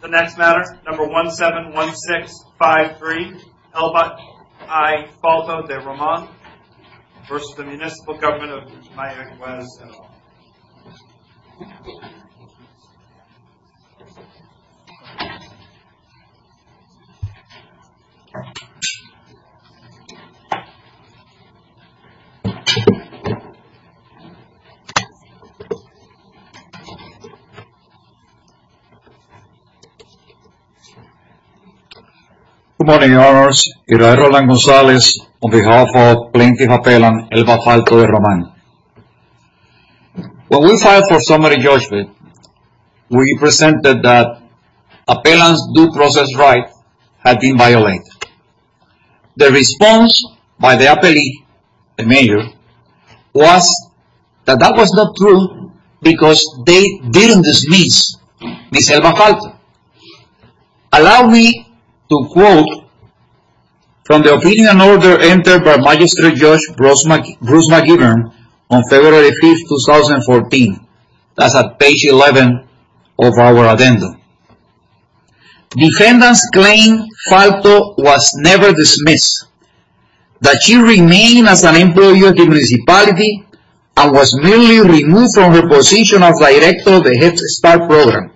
The next matter, number 171653, Elba y Falto-de Roman v. Municipal Gov't of Mayaguez. Good morning, Your Honors. I am Rolando Gonzalez on behalf of Plaintiff Appellant Elba Falto-de Roman. When we filed for summary judgment, we presented that appellant's due process rights had been violated. The response by the appellant, the mayor, was that that was not true because they didn't dismiss Ms. Elba Falto. Allow me to quote from the opinion and order entered by Mag. Judge Bruce McGibbon on February 5, 2014. That's at page 11 of our addendum. Defendants claim Falto was never dismissed. That she remained as an employee of the municipality and was merely removed from her position as director of the Head Start program.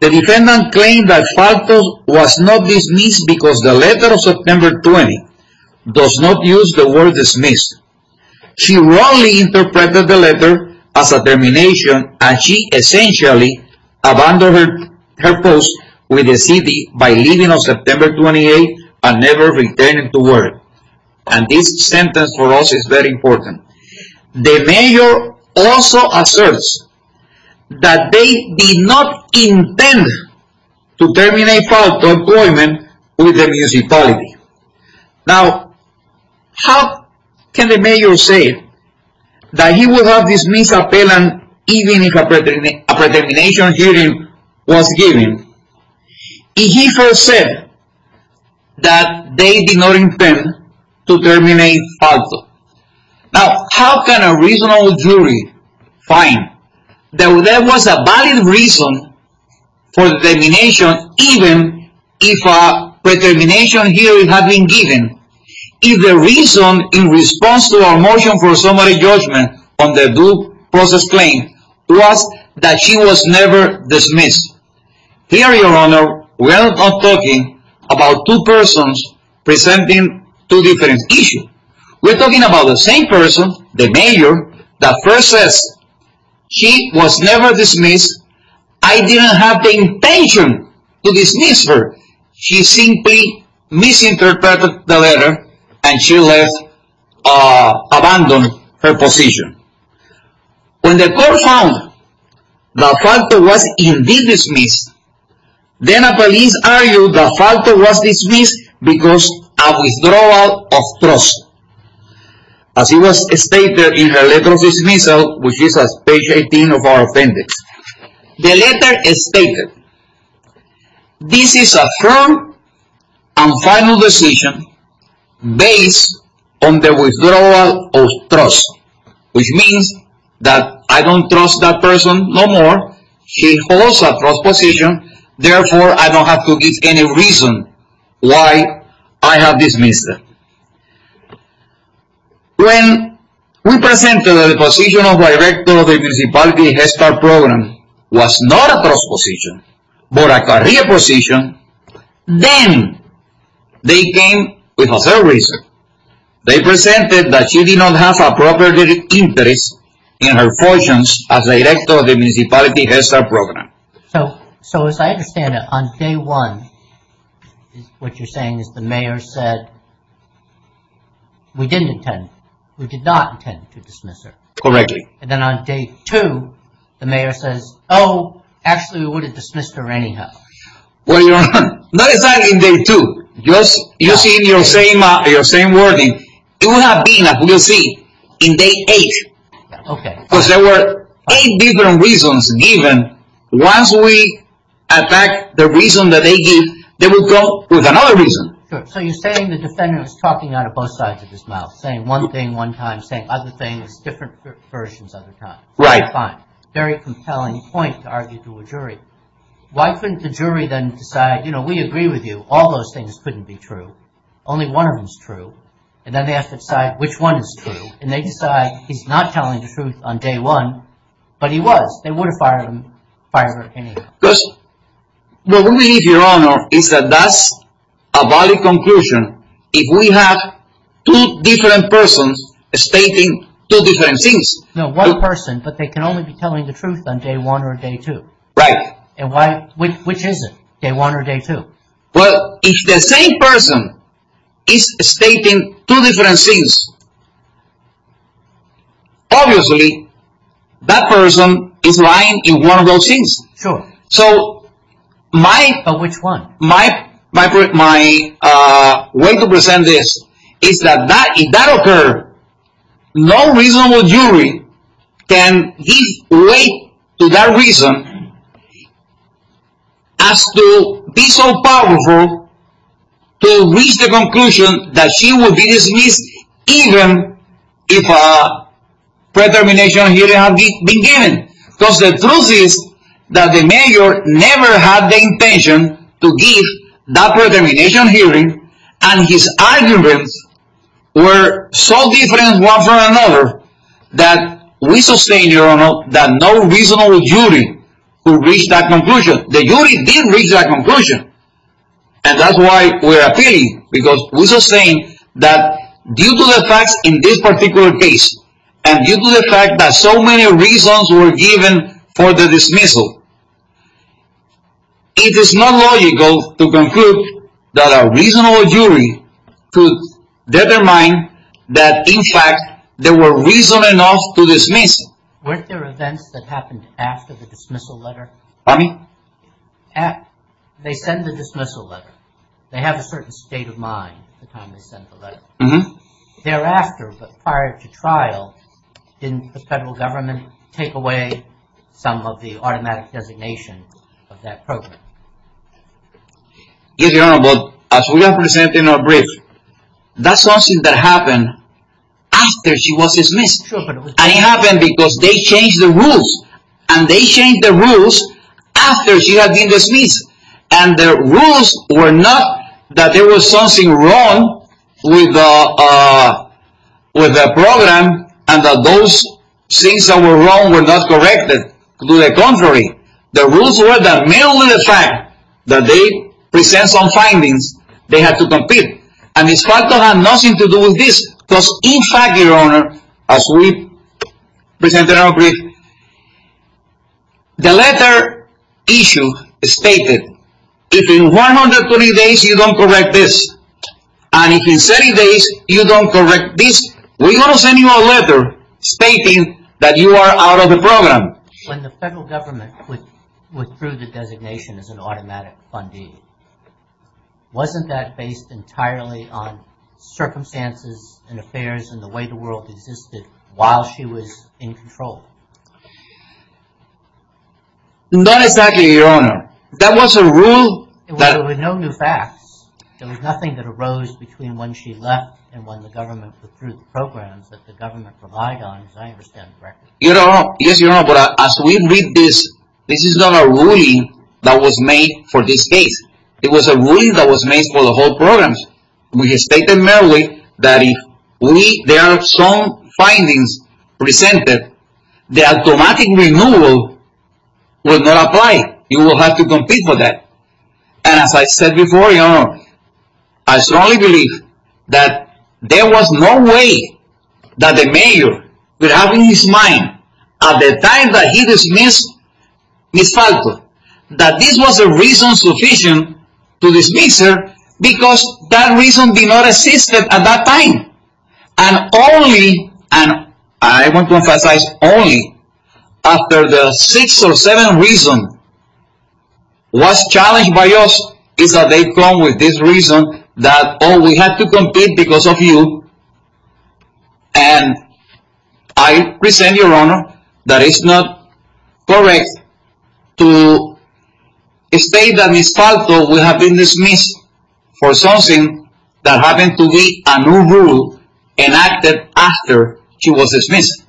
The defendant claimed that Falto was not dismissed because the letter of September 20 does not use the word dismissed. She wrongly interpreted the letter as a termination and she essentially abandoned her post with the city by leaving on September 28 and never returning to work. And this sentence for us is very important. The mayor also asserts that they did not intend to terminate Falto employment with the municipality. Now, how can the mayor say that he would have dismissed an appellant even if a determination hearing was given? He first said that they did not intend to terminate Falto. Now, how can a reasonable jury find that there was a valid reason for the termination even if a determination hearing had been given? If the reason in response to our motion for summary judgment on the due process claim was that she was never dismissed? Here, Your Honor, we are not talking about two persons presenting two different issues. We are talking about the same person, the mayor, that first says she was never dismissed, I didn't have the intention to dismiss her. She simply misinterpreted the letter and she left, abandoned her position. When the court found that Falto was indeed dismissed, then the police argued that Falto was dismissed because of a withdrawal of trust. As it was stated in the letter of dismissal, which is page 18 of our appendix. The letter stated, this is a firm and final decision based on the withdrawal of trust, which means that I don't trust that person no more. She holds a trust position. Therefore, I don't have to give any reason why I have dismissed her. When we presented that the position of Director of the Municipality Head Start Program was not a trust position but a career position, then they came with a third reason. They presented that she did not have appropriate interest in her positions as Director of the Municipality Head Start Program. So, as I understand it, on day one, what you're saying is the mayor said, we didn't intend, we did not intend to dismiss her. Correctly. And then on day two, the mayor says, oh, actually we would have dismissed her anyhow. Well, not exactly on day two. Using your same wording, it would have been, as we'll see, on day eight. Okay. Because there were eight different reasons given. Once we attacked the reason that they gave, they would go with another reason. So you're saying the defendant was talking out of both sides of his mouth, saying one thing one time, saying other things, different versions other times. Right. Fine. Very compelling point to argue to a jury. Why couldn't the jury then decide, you know, we agree with you, all those things couldn't be true. Only one of them is true. And then they have to decide which one is true. And they decide he's not telling the truth on day one, but he was. They would have fired her anyhow. Because, what we believe, Your Honor, is that that's a valid conclusion. If we have two different persons stating two different things. No, one person, but they can only be telling the truth on day one or day two. Right. And which is it? Day one or day two? Well, if the same person is stating two different things, obviously, that person is lying in one of those things. Sure. So, my... But which one? My way to present this is that if that occurred, no reasonable jury can give way to that reason as to be so powerful to reach the conclusion that she would be dismissed even if a pre-termination hearing had begun. Because the truth is that the major never had the intention to give that pre-termination hearing. And his arguments were so different one from another that we sustain, Your Honor, that no reasonable jury could reach that conclusion. The jury didn't reach that conclusion. And that's why we're appealing. Because we sustain that due to the facts in this particular case, and due to the fact that so many reasons were given for the dismissal, it is not logical to conclude that a reasonable jury could determine that, in fact, there were reasons enough to dismiss. Weren't there events that happened after the dismissal letter? Pardon me? They send the dismissal letter. They have a certain state of mind the time they send the letter. Mm-hmm. Thereafter, but prior to trial, didn't the federal government take away some of the automatic designation of that program? Yes, Your Honor, but as we represent in our brief, that's something that happened after she was dismissed. Sure, but it was... And the rules were not that there was something wrong with the program and that those things that were wrong were not corrected. To the contrary, the rules were that merely the fact that they present some findings, they had to compete. And this fact had nothing to do with this. Because, in fact, Your Honor, as we present in our brief, the letter issue stated, if in 120 days you don't correct this, and if in 30 days you don't correct this, we're going to send you a letter stating that you are out of the program. When the federal government withdrew the designation as an automatic fundee, wasn't that based entirely on circumstances and affairs and the way the world existed while she was in control? Not exactly, Your Honor. That was a rule that... There were no new facts. There was nothing that arose between when she left and when the government withdrew the programs that the government relied on, as I understand correctly. Yes, Your Honor, but as we read this, this is not a ruling that was made for this case. It was a ruling that was made for the whole programs. We stated merely that if we, their strong findings, presented, the automatic renewal would not apply. You will have to compete for that. And as I said before, Your Honor, I strongly believe that there was no way that the mayor could have in his mind, at the time that he dismissed Ms. Falco, that this was a reason sufficient to dismiss her because that reason did not exist at that time. And only, and I want to emphasize only, after the six or seven reasons was challenged by us is that they come with this reason that, oh, we have to compete because of you. And I resent, Your Honor, that it's not correct to state that Ms. Falco would have been dismissed for something that happened to be a new rule enacted after she was dismissed.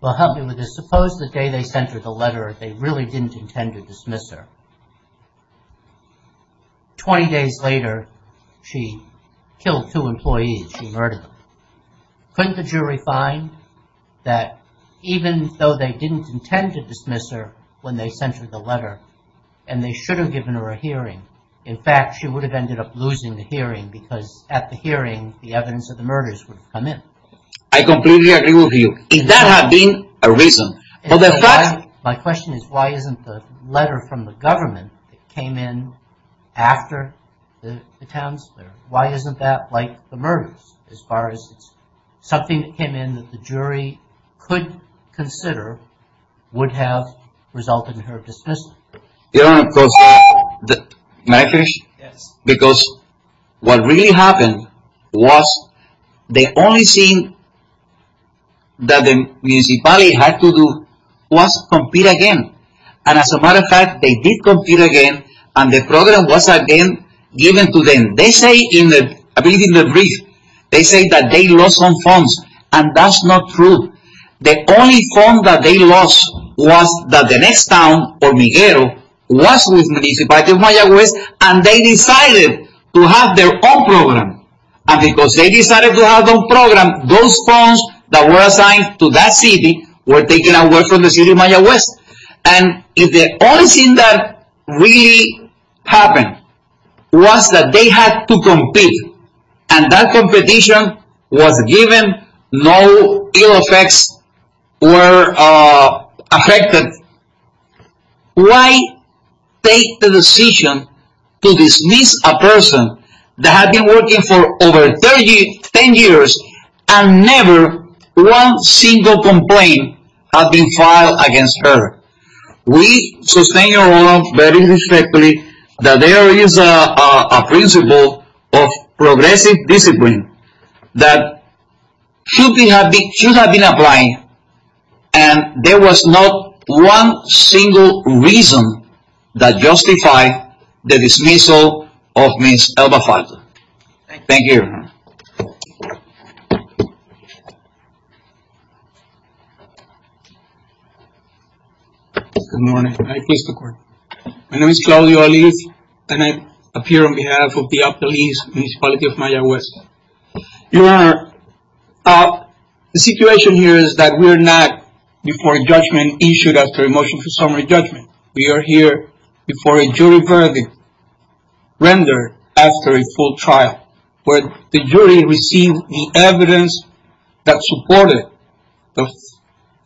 Well, help me with this. Suppose the day they sent her the letter, they really didn't intend to dismiss her. Twenty days later, she killed two employees. She murdered them. Couldn't the jury find that even though they didn't intend to dismiss her when they sent her the letter and they should have given her a hearing, in fact, she would have ended up losing the hearing because at the hearing, the evidence of the murders would have come in. I completely agree with you. If that had been a reason. My question is, why isn't the letter from the government that came in after the townspeople? Why isn't that like the murders as far as it's something that came in that the jury could consider would have resulted in her dismissal? May I finish? Yes. Because what really happened was the only thing that the municipality had to do was compete again. And as a matter of fact, they did compete again and the program was again given to them. They say in the, I believe in the brief, they say that they lost some funds and that's not true. The only fund that they lost was that the next town or Miguel was with municipality of Mayaguez and they decided to have their own program. And because they decided to have their own program, those funds that were assigned to that city were taken away from the city of Mayaguez. And the only thing that really happened was that they had to compete and that competition was given. No ill effects were affected. Why take the decision to dismiss a person that had been working for over 30, 10 years and never one single complaint had been filed against her? We sustain our own very respectfully that there is a principle of progressive discipline that should have been applied and there was not one single reason that justified the dismissal of Ms. Elba Falta. Thank you. Good morning. My name is Claudio Alive and I appear on behalf of the police municipality of Mayaguez. Your Honor, the situation here is that we're not before a judgment issued after a motion for summary judgment. We are here before a jury verdict rendered after a full trial where the jury received the evidence that supported the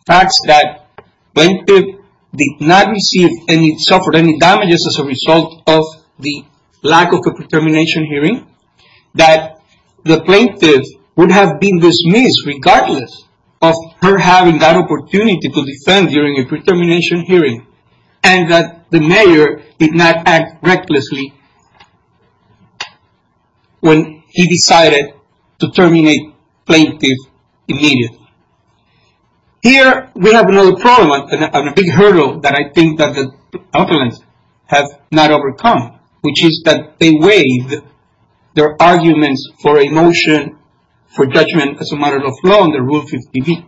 facts that the plaintiff did not receive any suffered any damages as a result of the lack of a determination hearing. That the plaintiff would have been dismissed regardless of her having that opportunity to defend during a determination hearing and that the mayor did not act recklessly when he decided to terminate plaintiff immediately. Here we have another problem and a big hurdle that I think that the applicants have not overcome, which is that they waived their arguments for a motion for judgment as a matter of law under Rule 50B.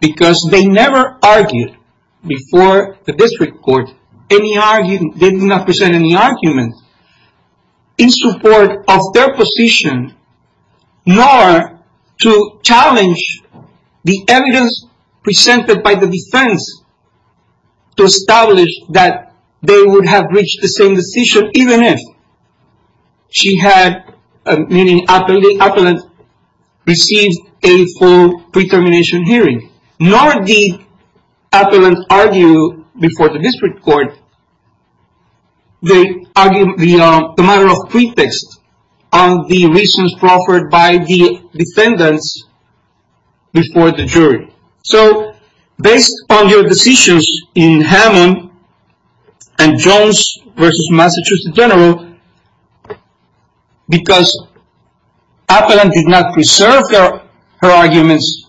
Because they never argued before the district court, they did not present any arguments in support of their position nor to challenge the evidence presented by the defense to establish that they would have reached the same decision even if she had, meaning the applicant received a full determination hearing. Nor did the applicant argue before the district court the matter of pretext of the reasons proffered by the defendants before the jury. So based on your decisions in Hammond and Jones versus Massachusetts General, because appellant did not preserve her arguments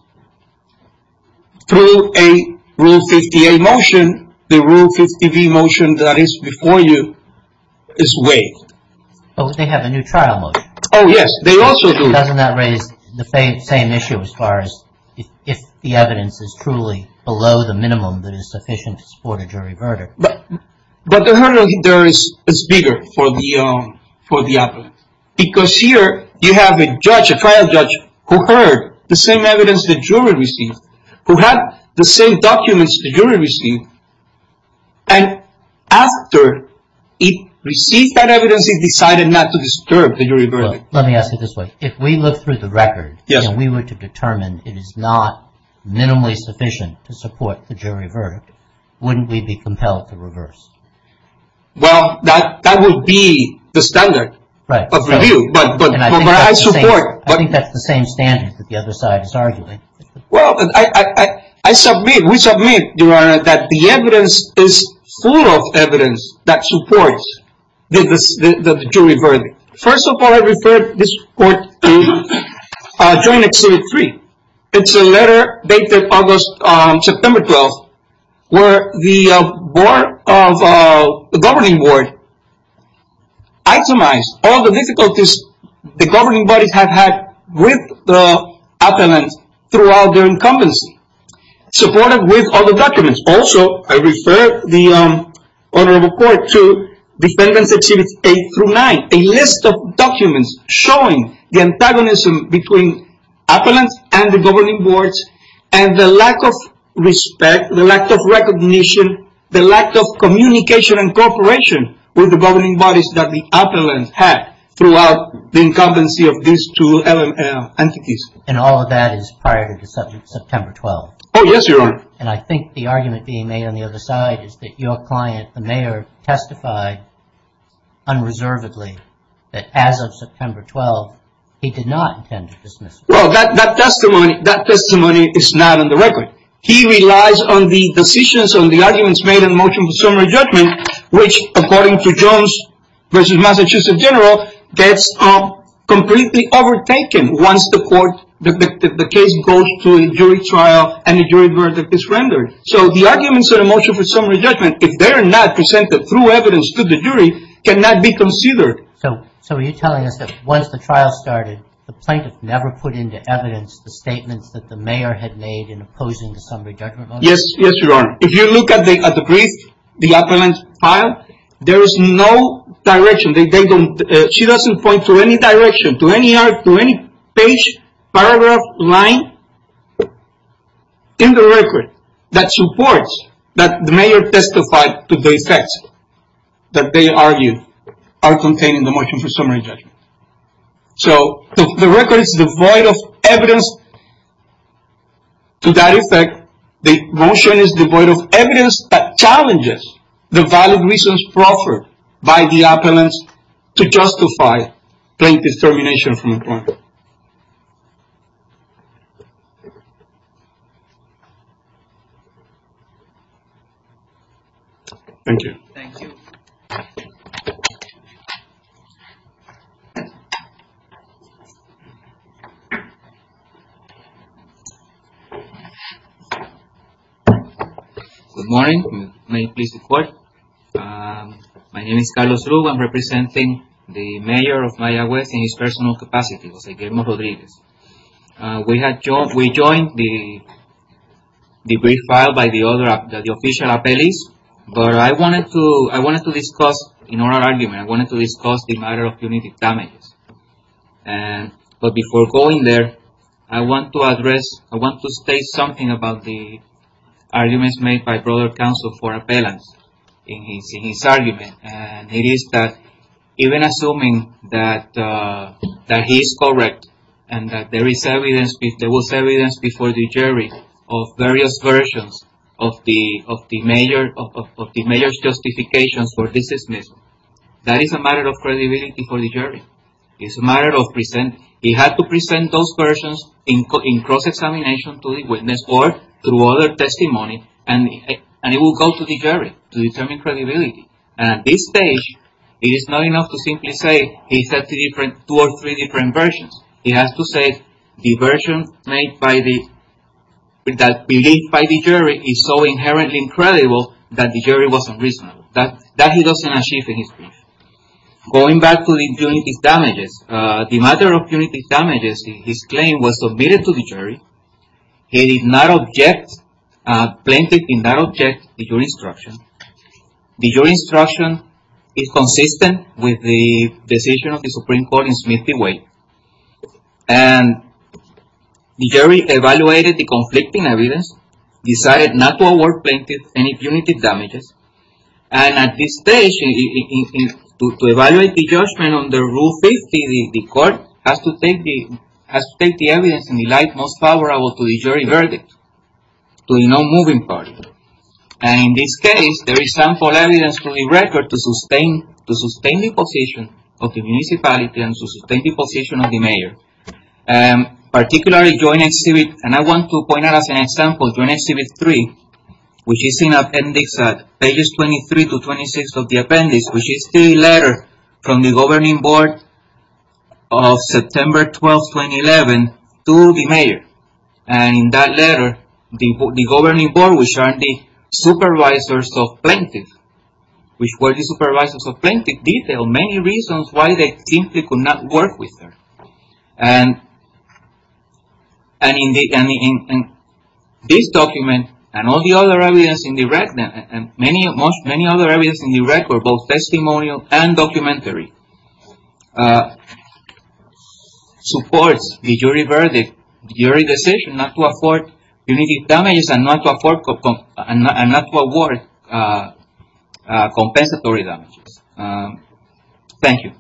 through a Rule 50A motion, the Rule 50B motion that is before you is waived. But they have a new trial motion. Oh yes, they also do. Doesn't that raise the same issue as far as if the evidence is truly below the minimum that is sufficient to support a jury verdict? But the hurdle there is bigger for the appellant. Because here you have a judge, a trial judge, who heard the same evidence the jury received, who had the same documents the jury received, and after it received that evidence it decided not to disturb the jury verdict. Let me ask it this way. If we look through the record and we were to determine it is not minimally sufficient to support the jury verdict, wouldn't we be compelled to reverse? Well, that would be the standard of review. I think that's the same standard that the other side is arguing. Well, I submit, we submit, Your Honor, that the evidence is full of evidence that supports the jury verdict. First of all, I refer this court to Joint Exhibit 3. It's a letter dated August-September 12, where the governing board itemized all the difficulties the governing bodies have had with the appellant throughout their incumbency. Supported with all the documents. Also, I refer the honorable court to Defendants Exhibits 8 through 9. A list of documents showing the antagonism between appellants and the governing boards and the lack of respect, the lack of recognition, the lack of communication and cooperation with the governing bodies that the appellant had throughout the incumbency of these two entities. And all of that is prior to September 12. Oh, yes, Your Honor. And I think the argument being made on the other side is that your client, the mayor, testified unreservedly that as of September 12, he did not intend to dismiss it. Well, that testimony is not on the record. He relies on the decisions, on the arguments made in the motion for summary judgment, which, according to Jones v. Massachusetts General, gets completely overtaken once the case goes to a jury trial and the jury verdict is rendered. So the arguments in the motion for summary judgment, if they are not presented through evidence to the jury, cannot be considered. So are you telling us that once the trial started, the plaintiff never put into evidence the statements that the mayor had made in opposing the summary judgment motion? Yes, Your Honor. If you look at the brief, the appellant's file, there is no direction. She doesn't point to any direction, to any page, paragraph, line in the record that supports that the mayor testified to the effects that they argued are contained in the motion for summary judgment. So the record is devoid of evidence. To that effect, the motion is devoid of evidence that challenges the valid reasons offered by the appellants to justify plaintiff's termination from the client. Thank you. Thank you. Thank you. Good morning. May it please the court. My name is Carlos Lugo. I'm representing the mayor of Mayaguez in his personal capacity, Jose Guillermo Rodriguez. We joined the brief filed by the official appellees. But I wanted to discuss in our argument, I wanted to discuss the matter of punitive damages. But before going there, I want to address, I want to state something about the arguments made by broader counsel for appellants in his argument. It is that even assuming that he is correct and that there is evidence, there was evidence before the jury of various versions of the mayor's justification for dismissal. That is a matter of credibility for the jury. It's a matter of presenting. He had to present those versions in cross-examination to the witness board through other testimony. And it will go to the jury to determine credibility. At this stage, it is not enough to simply say he said two or three different versions. He has to say the version made by the jury is so inherently incredible that the jury wasn't reasonable. That he doesn't achieve in his brief. Going back to the punitive damages, the matter of punitive damages, his claim was submitted to the jury. He did not object, plaintiff did not object to your instruction. Your instruction is consistent with the decision of the Supreme Court in Smith v. Wade. And the jury evaluated the conflicting evidence, decided not to award plaintiff any punitive damages. And at this stage, to evaluate the judgment under Rule 50, the court has to take the evidence in the light most favorable to the jury verdict. To the non-moving party. And in this case, there is sample evidence for the record to sustain the position of the municipality and to sustain the position of the mayor. Particularly Joint Exhibit, and I want to point out as an example, Joint Exhibit 3, which is in appendix pages 23 to 26 of the appendix. Which is the letter from the governing board of September 12, 2011 to the mayor. And in that letter, the governing board, which are the supervisors of plaintiff, which were the supervisors of plaintiff, detailed many reasons why they simply could not work with her. And in this document, and all the other evidence in the record, both testimonial and documentary, supports the jury decision not to afford punitive damages and not to award compensatory damages. Thank you. Thank you.